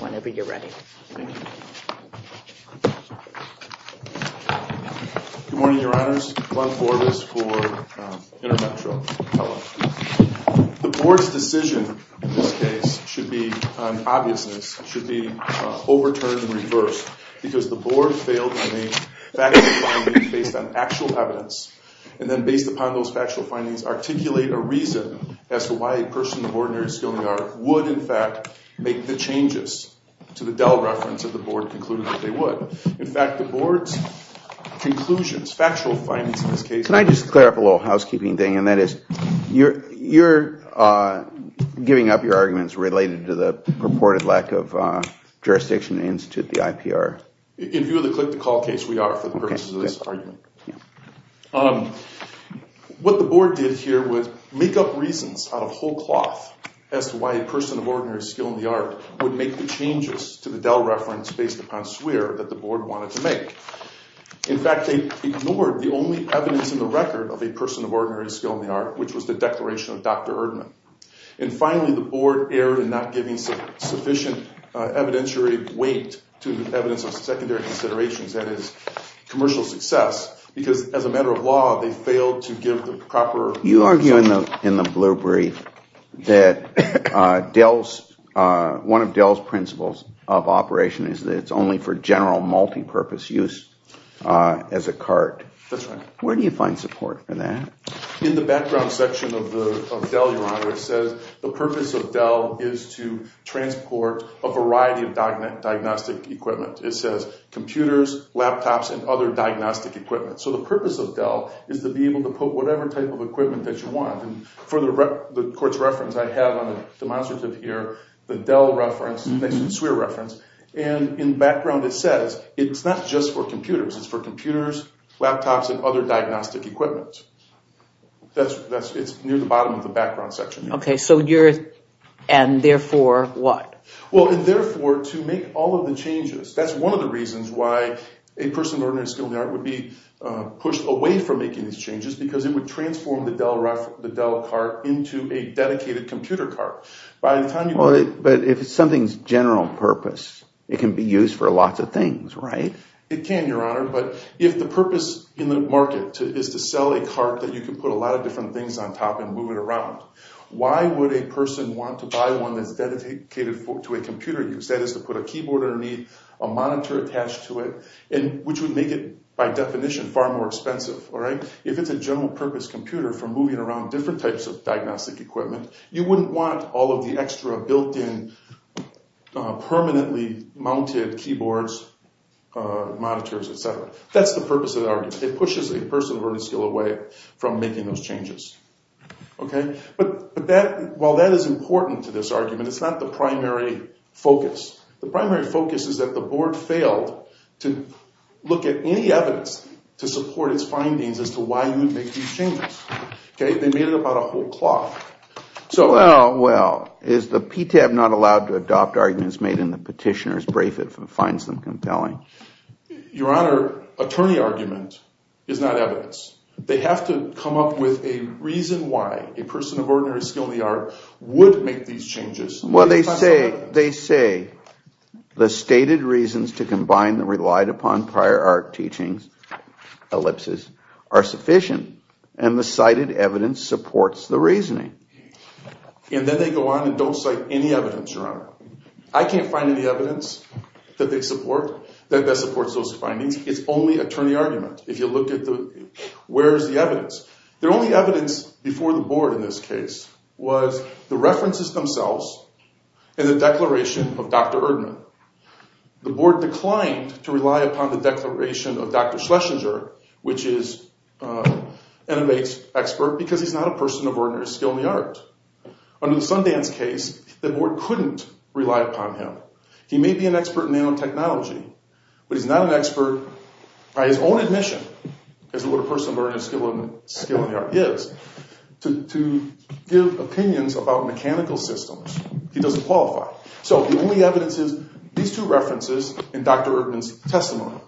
whenever you're ready. Good morning, Your Honors. Ron Forbes for InterMetro. The board's decision in this case should be an obviousness, should be overturned and reversed because the board failed in the factual findings based on actual evidence and then based upon those factual findings articulate a reason as to why a person of ordinary skill and fact make the changes to the Dell reference of the board concluded that they would. In fact, the board's conclusions, factual findings in this case. Can I just clear up a little housekeeping thing and that is you're you're giving up your arguments related to the purported lack of jurisdiction to institute the IPR. In view of the click-to-call case we are for the purposes of this argument. What the board did here was make up reasons out of whole cloth as to why a person of ordinary skill in the art would make the changes to the Dell reference based upon swear that the board wanted to make. In fact, they ignored the only evidence in the record of a person of ordinary skill in the art which was the declaration of Dr. Erdman and finally the board erred in not giving sufficient evidentiary weight to evidence of secondary considerations that is commercial success because as a matter of law they failed to give the Dell's one of Dell's principles of operation is that it's only for general multi-purpose use as a cart. That's right. Where do you find support for that? In the background section of the Dell, your honor, it says the purpose of Dell is to transport a variety of diagnostic equipment. It says computers, laptops, and other diagnostic equipment. So the purpose of Dell is to be able to put whatever type of equipment that you want and for the court's reference I have on the demonstrative here the Dell reference next to the swear reference and in background it says it's not just for computers it's for computers, laptops, and other diagnostic equipment. That's it's near the bottom of the background section. Okay so you're and therefore what? Well and therefore to make all of the changes that's one of the reasons why a person of ordinary skill in the art would be pushed away from making these changes because it would transform the Dell cart into a dedicated computer cart. But if it's something's general purpose it can be used for lots of things, right? It can, your honor, but if the purpose in the market is to sell a cart that you can put a lot of different things on top and move it around, why would a person want to buy one that's dedicated to a computer use? That is to put a keyboard underneath, a monitor attached to it, and which would make it by definition far more expensive, all right? If it's a general-purpose computer for moving around different types of diagnostic equipment you wouldn't want all of the extra built-in permanently mounted keyboards, monitors, etc. That's the purpose of the argument. It pushes a person of ordinary skill away from making those changes. Okay but that while that is important to this argument it's not the primary focus. The primary focus is that the board failed to look at any evidence to support its findings as to why you would make these changes, okay? They made it about a whole clock. Well, well, is the PTAB not allowed to adopt arguments made in the petitioner's brief if it finds them compelling? Your honor, attorney argument is not evidence. They have to come up with a reason why a person of ordinary skill in the art would make these changes. Well, they say the stated reasons to combine the relied-upon prior art teachings ellipses are sufficient and the cited evidence supports the reasoning. And then they go on and don't cite any evidence, your honor. I can't find any evidence that they support that supports those findings. It's only attorney argument. If you look at the where's the evidence. The only evidence before the board in this case was the references themselves and the declaration of Dr. Erdman. The board declined to rely upon the declaration of Dr. Schlesinger, which is an expert because he's not a person of ordinary skill in the art. Under the Sundance case the board couldn't rely upon him. He may be an expert in nanotechnology but he's not an expert by his own admission as what a person of ordinary skill in the art is. To give opinions about mechanical systems he doesn't qualify. So the only evidence is these two references and Dr. Erdman's testimony.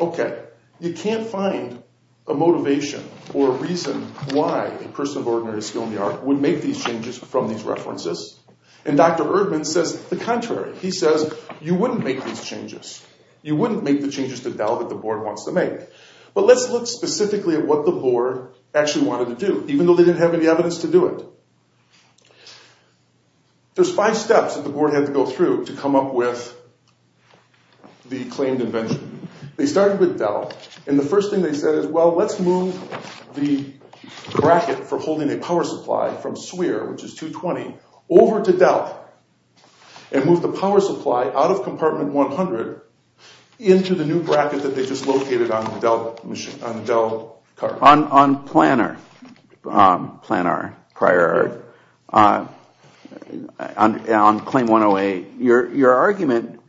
Okay, you can't find a motivation or a reason why a person of ordinary skill in the art would make these changes from these references. And Dr. Erdman says the contrary. He says you wouldn't make these changes. You wouldn't make the changes to Dell that the board wanted to do even though they didn't have any evidence to do it. There's five steps that the board had to go through to come up with the claimed invention. They started with Dell and the first thing they said is well let's move the bracket for holding a power supply from SWIR, which is 220, over to Dell and move the power supply out of compartment 100 into the new bracket that they just located on Dell. On Plannar prior on claim 108 your argument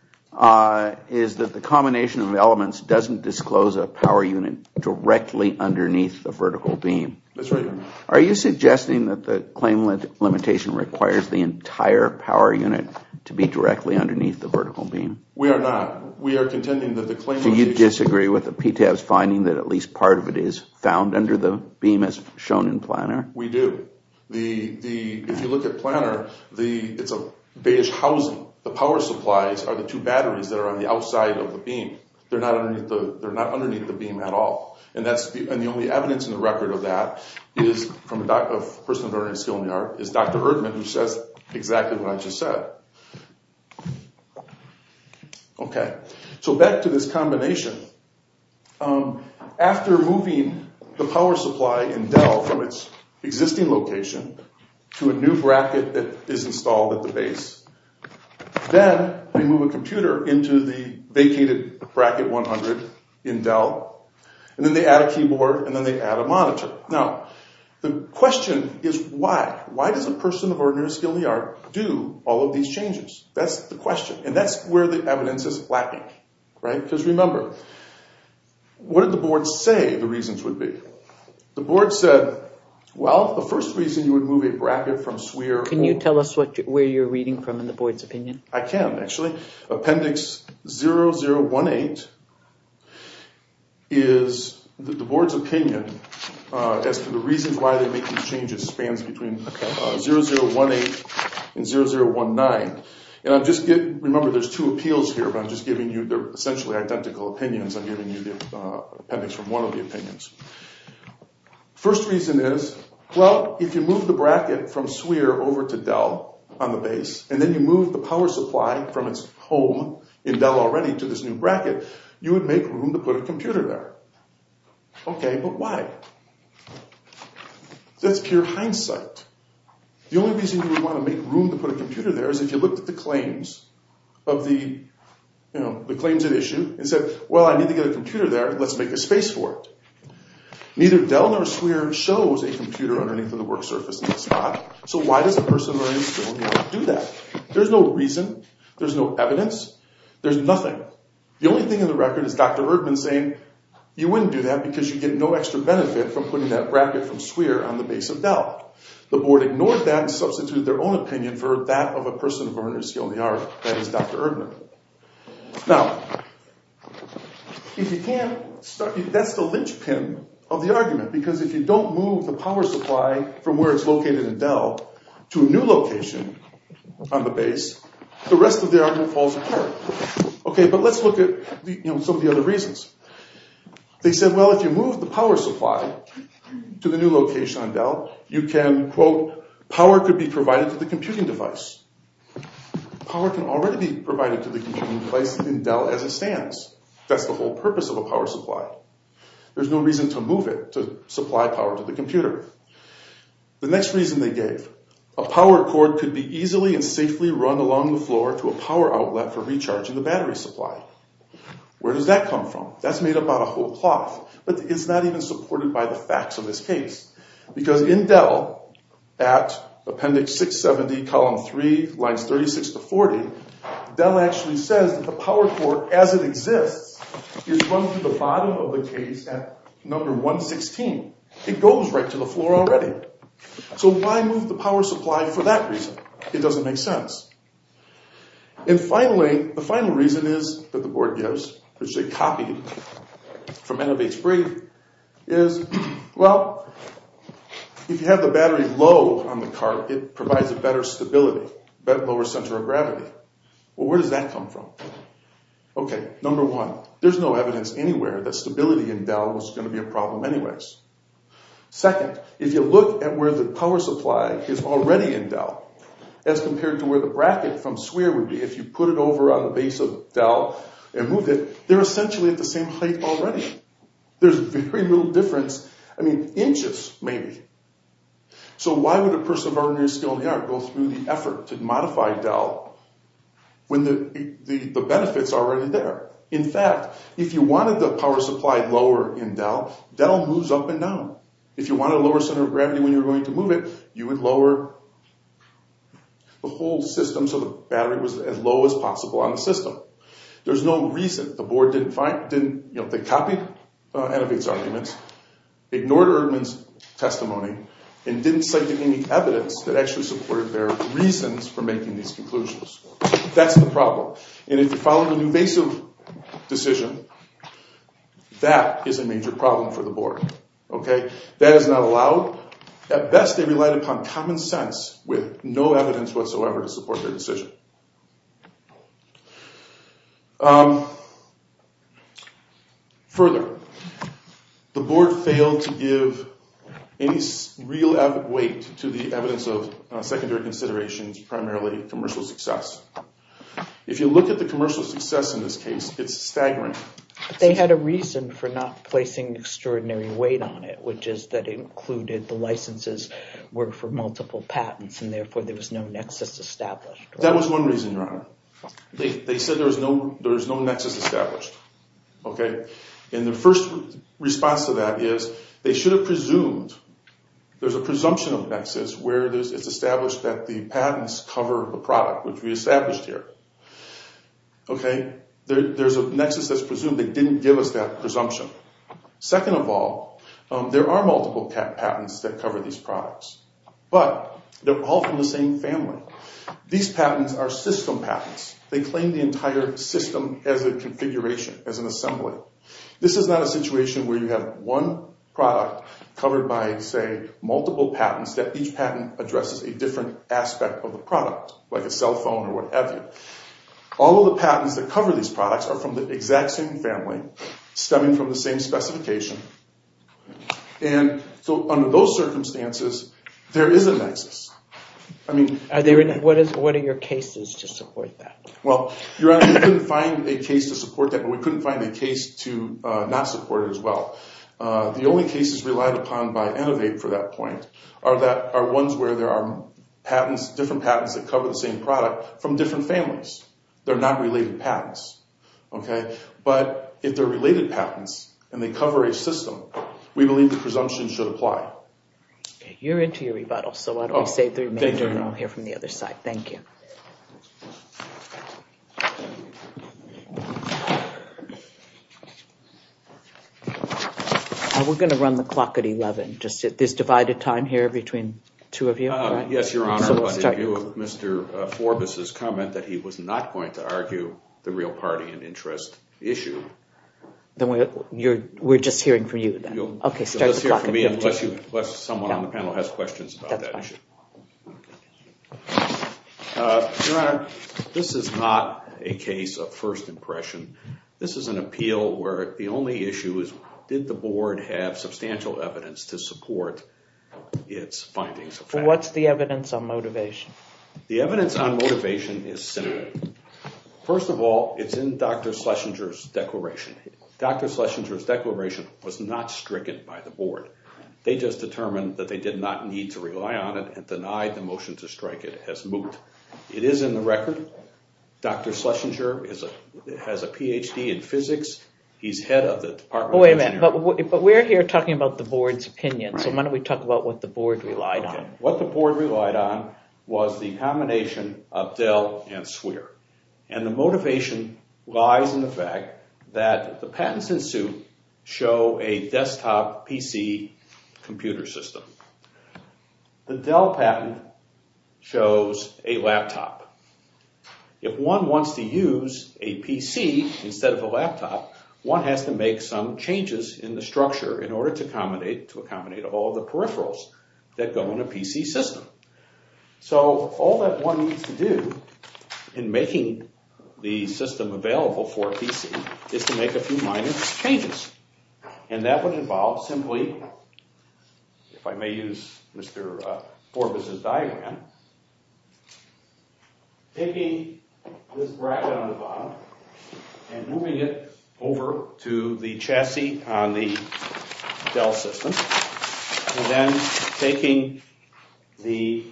is that the combination of elements doesn't disclose a power unit directly underneath the vertical beam. That's right. Are you suggesting that the claim limit limitation requires the entire power unit to be directly underneath the vertical beam? We are not. We are contending that the claim... So you disagree with the PTAB's finding that at least part of it is found under the beam as shown in Plannar? We do. If you look at Plannar, it's a beige housing. The power supplies are the two batteries that are on the outside of the beam. They're not underneath the beam at all and the only evidence in the record of that is from a person of ordinary skill in the art is Dr. Erdman who says exactly what I just said. Okay, so back to this combination. After moving the power supply in Dell from its existing location to a new bracket that is installed at the base, then they move a computer into the vacated bracket 100 in Dell and then they add a keyboard and then they add a monitor. Now the question is why? Why does a person of ordinary skill in the art do all of these changes? That's the question and that's where the evidence is lacking, right? Because remember, what did the board say the reasons would be? The board said, well, the first reason you would move a bracket from SWEAR... Can you tell us what where you're reading from in the board's opinion? I can actually. Appendix 0018 is the board's opinion as to the reasons why they make these changes spans between 0018 and 0019 and I'm just getting... Remember there's two appeals here but I'm just giving you they're essentially identical opinions. I'm giving you the appendix from one of the opinions. First reason is, well, if you move the bracket from SWEAR over to Dell on the base and then you move the power supply from its home in Dell already to this new bracket, you would make room to put a computer there. Okay, but why? That's pure hindsight. The only reason you would want to make room to put a computer there is if you looked at the claims of the, you know, the claims at issue and said, well, I need to get a computer there. Let's make a space for it. Neither Dell nor SWEAR shows a computer underneath of the work surface in that spot. So why does a person of ordinary skill in the art do that? There's no reason. There's no evidence. There's nothing. The only thing in the wouldn't do that because you get no extra benefit from putting that bracket from SWEAR on the base of Dell. The board ignored that and substituted their own opinion for that of a person of ordinary skill in the art, that is Dr. Erdner. Now, if you can't start... That's the linchpin of the argument because if you don't move the power supply from where it's located in Dell to a new location on the base, the rest of the argument falls apart. Okay, but let's look at the, you know, some of the reasons. They said, well, if you move the power supply to the new location on Dell, you can, quote, power could be provided to the computing device. Power can already be provided to the computing device in Dell as it stands. That's the whole purpose of a power supply. There's no reason to move it to supply power to the computer. The next reason they gave, a power cord could be easily and safely run along the floor to a power outlet for recharging the battery supply. Where does that come from? That's made up out of whole cloth, but it's not even supported by the facts of this case. Because in Dell, at appendix 670, column 3, lines 36 to 40, Dell actually says that the power cord as it exists is run through the bottom of the case at number 116. It goes right to the floor already. So why move the power supply for that reason? It doesn't make sense. And finally, the final reason is, that the board gives, which they copied from N of H brief, is, well, if you have the battery low on the cart, it provides a better stability, lower center of gravity. Well, where does that come from? Okay, number one, there's no evidence anywhere that stability in Dell was going to be a problem anyways. Second, if you look at where the power supply is already in Dell, as compared to where the bracket from SWEAR would be, if you put it over the base of Dell and move it, they're essentially at the same height already. There's very little difference. I mean, inches, maybe. So why would a person of ordinary skill in the art go through the effort to modify Dell when the benefits are already there? In fact, if you wanted the power supply lower in Dell, Dell moves up and down. If you want a lower center of gravity when you're going to move it, you would lower the whole system so the battery was as low as possible on the system. There's no reason the board didn't find, didn't, you know, they copied N of H's arguments, ignored Erdman's testimony, and didn't cite any evidence that actually supported their reasons for making these conclusions. That's the problem. And if you follow an invasive decision, that is a major problem for the board. Okay, that is not allowed. At best, they relied upon common sense with no further. The board failed to give any real weight to the evidence of secondary considerations, primarily commercial success. If you look at the commercial success in this case, it's staggering. They had a reason for not placing extraordinary weight on it, which is that included the licenses were for multiple patents and therefore there was no nexus established. That was one reason, Your Honor. They said there's no nexus established. Okay, and the first response to that is they should have presumed, there's a presumption of nexus where it's established that the patents cover a product, which we established here. Okay, there's a nexus that's presumed. They didn't give us that presumption. Second of all, there are multiple patents that cover these patents. They claim the entire system as a configuration, as an assembly. This is not a situation where you have one product covered by, say, multiple patents that each patent addresses a different aspect of the product, like a cell phone or whatever. All of the patents that cover these products are from the exact same family, stemming from the same specification, and so under those Well, Your Honor, we couldn't find a case to support that, but we couldn't find a case to not support it as well. The only cases relied upon by Innovate for that point are ones where there are patents, different patents, that cover the same product from different families. They're not related patents. Okay, but if they're related patents and they cover a system, we believe the presumption should apply. You're into your rebuttal, so why don't we save the remainder and I'll hear from the other side. Thank you. We're going to run the clock at 11, just at this divided time here between two of you. Yes, Your Honor, in view of Mr. Forbus' comment that he was not going to argue the real party and interest issue. Then we're just hearing from you. Okay, so let's hear from me unless someone on the panel has questions about that issue. Your Honor, this is not a case of first impression. This is an appeal where the only issue is did the board have substantial evidence to support its findings. What's the evidence on motivation? The evidence on motivation is simple. First of all, it's in Dr. Schlesinger's declaration. Dr. Schlesinger's declaration was not stricken by the board. They just determined that they did not need to rely on it and denied the motion to strike it as moot. It is in the record. Dr. Schlesinger has a PhD in physics. He's head of the Department of Engineering. Wait a minute, but we're here talking about the board's opinion, so why don't we talk about what the board relied on. What the board relied on was the combination of Dell and SWER. The motivation lies in the fact that the patents in Dell show a desktop PC computer system. The Dell patent shows a laptop. If one wants to use a PC instead of a laptop, one has to make some changes in the structure in order to accommodate to accommodate all of the peripherals that go in a PC system. So all that one needs to do in making the system available for a PC is to make a few minor changes, and that would involve simply, if I may use Mr. Corbis's diagram, taking this bracket on the bottom and moving it over to the chassis on the Dell system, and then taking the,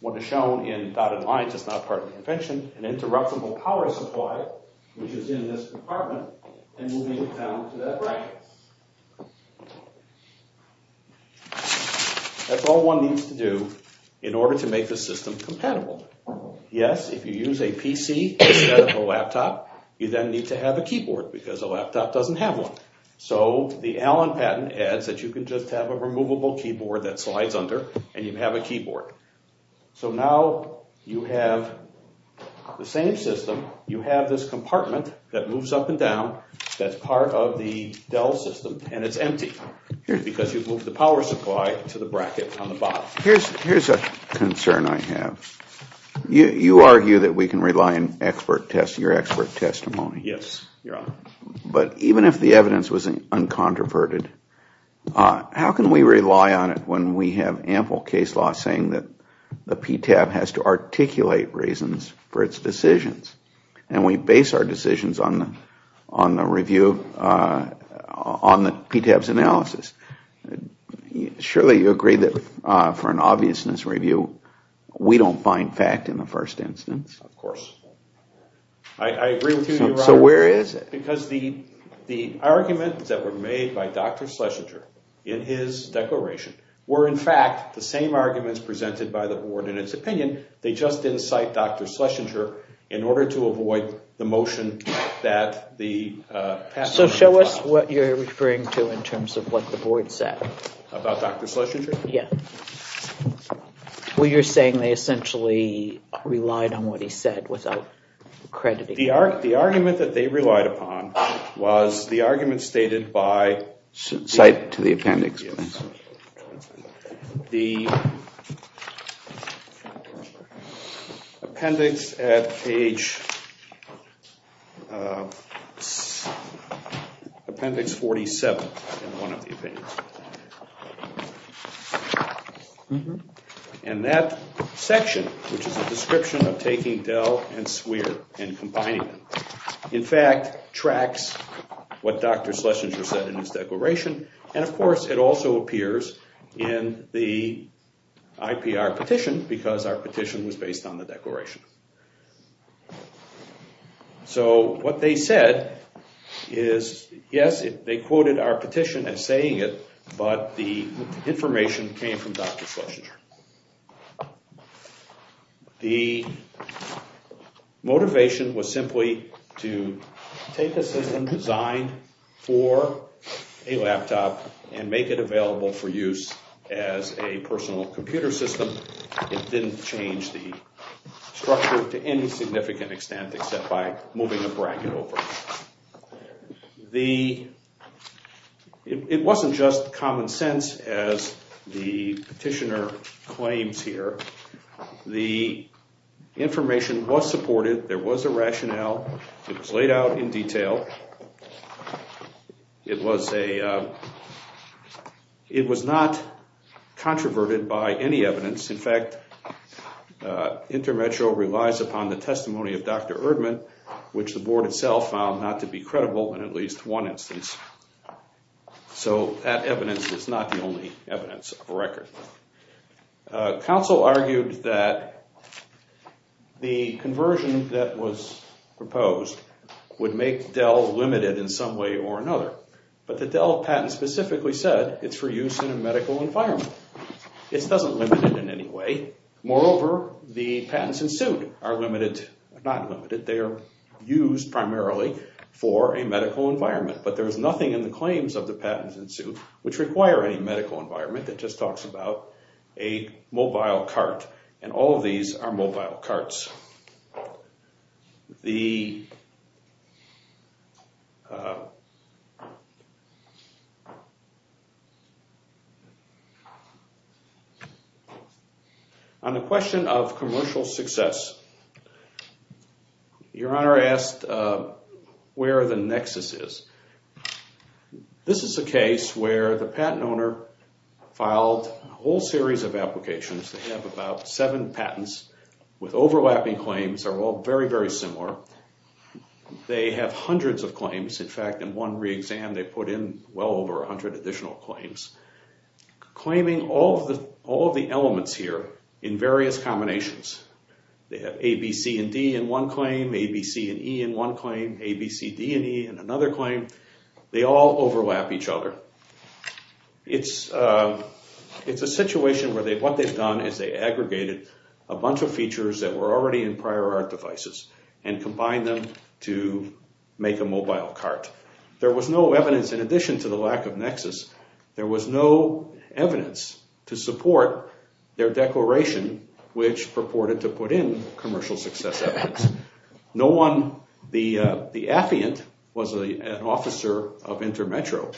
what is shown in dotted lines, it's not part of the invention, an interruptible power supply which is in this compartment, and moving it down to that bracket. That's all one needs to do in order to make the system compatible. Yes, if you use a PC instead of a laptop, you then need to have a keyboard because a laptop doesn't have one. So the Allen patent adds that you can just have a removable keyboard that slides under, and you have a keyboard. So now you have the same system, you have this compartment that moves up and down, that's part of the Dell system, and it's empty because you've moved the power supply to the bracket on the bottom. Here's a concern I have. You argue that we can rely on your expert testimony. Yes, Your Honor. But even if the evidence was uncontroverted, how can we rely on it when we have ample case law saying that the conclusions on the review, on the PTAB's analysis? Surely you agree that for an obviousness review, we don't find fact in the first instance? Of course. I agree with you, Your Honor. So where is it? Because the argument that was made by Dr. Schlesinger in his declaration were in fact the same arguments presented by the board in its opinion, they just didn't cite Dr. Schlesinger in order to avoid the motion that the patent... So show us what you're referring to in terms of what the board said. About Dr. Schlesinger? Yeah. Well, you're saying they essentially relied on what he said without crediting... The argument that they relied upon was the argument stated by... Appendix 47 in one of the opinions. And that section, which is a description of taking Dell and Swear and combining them, in fact tracks what Dr. Schlesinger said in his declaration, and of course it also appears in the IPR petition because our petition was based on the declaration. So what they said is, yes, they quoted our petition as saying it, but the information came from Dr. Schlesinger. The motivation was simply to take a system designed for a laptop and make it available for use as a personal computer system. It didn't change the structure to any significant extent except by moving the bracket over. It wasn't just common sense as the petitioner claims here. The information was supported, there was a rationale, it was laid out in detail. It was not controverted by any evidence. In fact, InterMetro relies upon the testimony of Dr. Erdman, which the board itself found not to be credible in at least one instance. So that evidence is not the only evidence of a record. Counsel argued that the conversion that was proposed would make Dell limited in some way or another, but the Dell patent specifically said it's for use in a medical environment. It doesn't limit it in any way. Moreover, the patents ensued are used primarily for a medical environment, but there's nothing in the claims of the patents ensued which require any medical environment. It just talks about a mobile cart, and all of these are mobile carts. On the question of commercial success, Your Honor asked where the nexus is. This is a case where the patent owner filed a whole series of applications. They have about seven patents with overlapping claims. They're all very, very similar. They have hundreds of claims. In fact, in one re-exam, they put in well over 100 additional claims, claiming all of the elements here in various combinations. They have A, B, C, and D in one claim, A, B, C, and E in one claim, A, B, C, D, and E in another claim. They all overlap each other. It's a situation where what they've done is they aggregated a bunch of features that were already in prior art devices and combined them to make a mobile cart. There was no evidence, in addition to the lack of nexus, there was no evidence to support their declaration which purported to put in commercial success evidence. The affiant was an officer of InterMetro,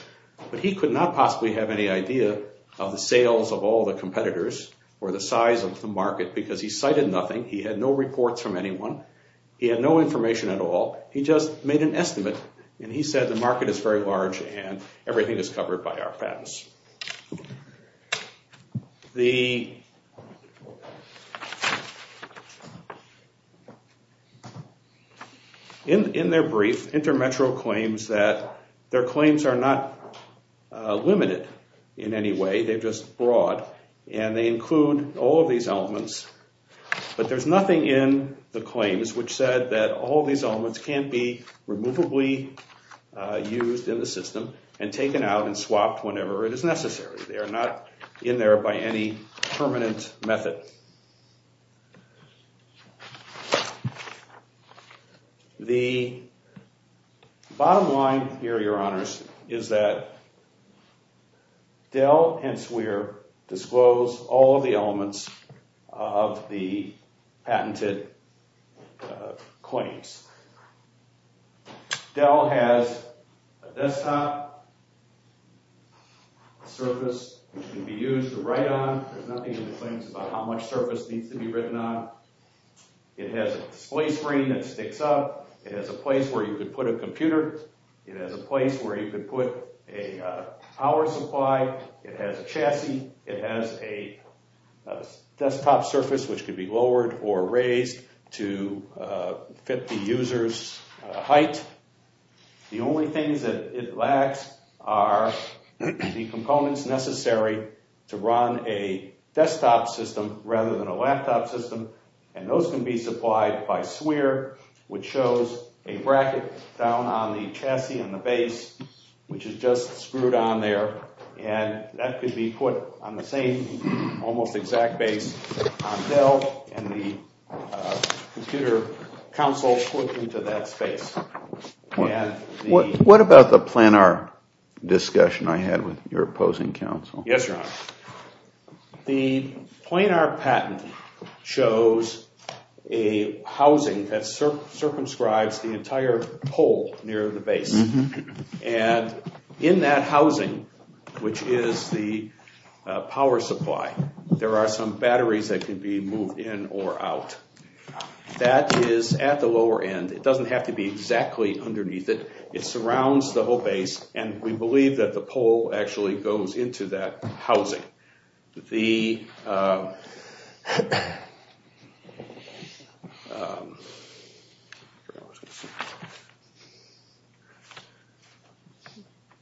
but he could not possibly have any idea of the sales of all the competitors or the size of the market because he cited nothing. He had no reports from anyone. He had no information at all. He just made an estimate, and he said the market is very large, and everything is covered by our patents. In their brief, InterMetro claims that their claims are not limited in any way. They're just broad, and they include all of these elements, but there's nothing in the claims which said that all these elements can't be removably used in the system and taken out and swapped whenever it is necessary. They are not in there by any permanent method. The bottom line here, Your Honors, is that Dell, hence where, disclosed all of the elements of the patented claims. Dell has a desktop surface which can be used to write on. There's nothing in the claims about how much surface needs to be written on. It has a display screen that sticks up. It has a place where you could put a computer. It has a place where you could put a power supply. It has a chassis. It has a desktop surface which could be lowered or raised to fit the user's height. The only things that it lacks are the components necessary to run a desktop system rather than a laptop system, and those can be supplied by SWIR, which shows a bracket down on the chassis and the base, which is just screwed on there. That could be put on the same almost exact base on Dell and the computer console put into that space. What about the planar discussion I had with your opposing counsel? Yes, Your Honor. The planar patent shows a housing that circumscribes the entire pole near the base, and in that housing, which is the power supply, there are some batteries that can be moved in or out. That is at the lower end. It doesn't have to be exactly underneath it. It surrounds the whole base, and we believe that the pole actually goes into that housing.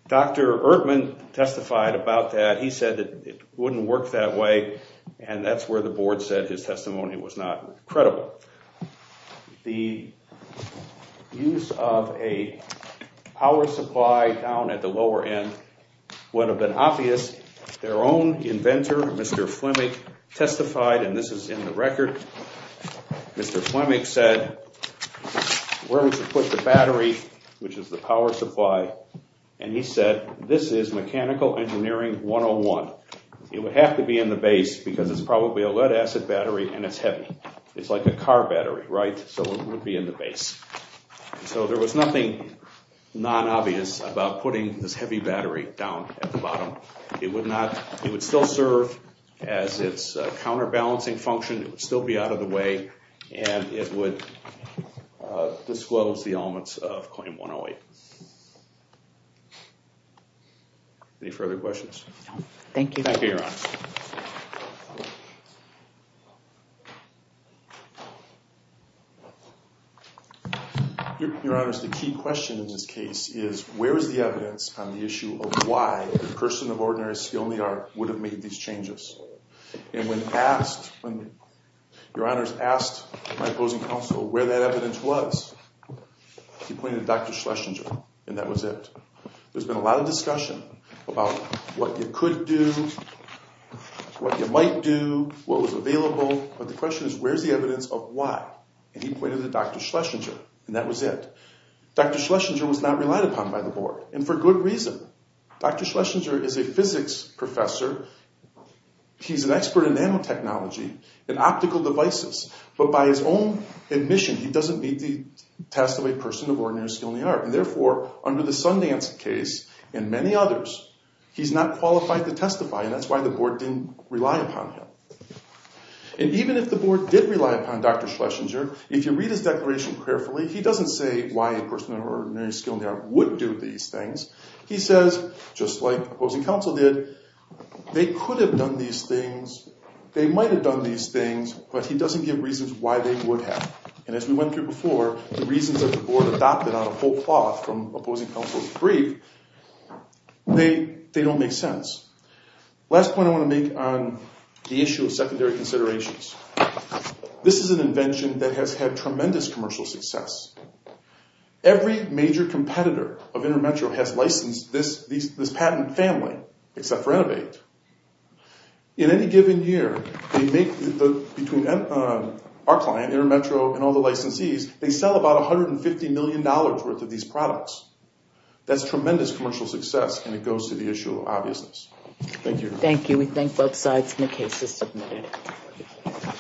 Dr. Erdman testified about that. He said that it wouldn't work that way, and that's where the board said his testimony was not credible. The use of a power supply down at the lower end would have been obvious. Their own inventor, Mr. Flemick, testified, and this is in the record. Mr. Flemick said, where would you put the battery, which is the power supply, and he said, this is Mechanical Engineering 101. It would have to be in the base because it's probably a lead-acid battery, and it's heavy. It's like a car battery, right? So it would be in the base. So there was nothing non-obvious about putting this heavy battery down at the bottom. It would still serve as its counterbalancing function. It would still be out of the way, and it would disclose the elements of Claim 108. Any further questions? Thank you. Thank you, Your Honor. Your Honor, the key question in this case is, where is the evidence on the issue of why a person of ordinary skill and the art would have made these changes? And when asked, when Your Honor's asked my opposing counsel where that evidence was, he pointed to Dr. Schlesinger, and that was it. There's been a lot of discussion about what you could do, what you might do, what was available, but the question is, where's the evidence of why? And he pointed to Dr. Schlesinger, and that was it. Dr. Schlesinger was not relied upon by the board, and for good reason. Dr. Schlesinger is a physics professor. He's an expert in nanotechnology and optical devices, but by his own admission, he doesn't meet the test of a person of ordinary skill and the art. And therefore, under the Sundance case and many others, he's not qualified to testify, and that's why the board didn't rely upon him. And even if the board did rely upon Dr. Schlesinger, if you read his declaration carefully, he doesn't say why a person of ordinary skill and the art would do these things. He says, just like opposing counsel did, they could have done these things, they might have done these things, but he doesn't give reasons why they would have. And as we went through before, the reasons that the board adopted on a whole cloth from opposing counsel's brief, they don't make sense. Last point I want to make on the issue of secondary considerations. This is an invention that has had tremendous commercial success. Every major competitor of InterMetro has licensed this patent family, except for Innovate. In any given year, between our client, InterMetro, and all the licensees, they sell about $150 million worth of these products. That's tremendous commercial success, and it goes to the issue of obviousness. Thank you. Thank you. We thank both sides for the cases submitted.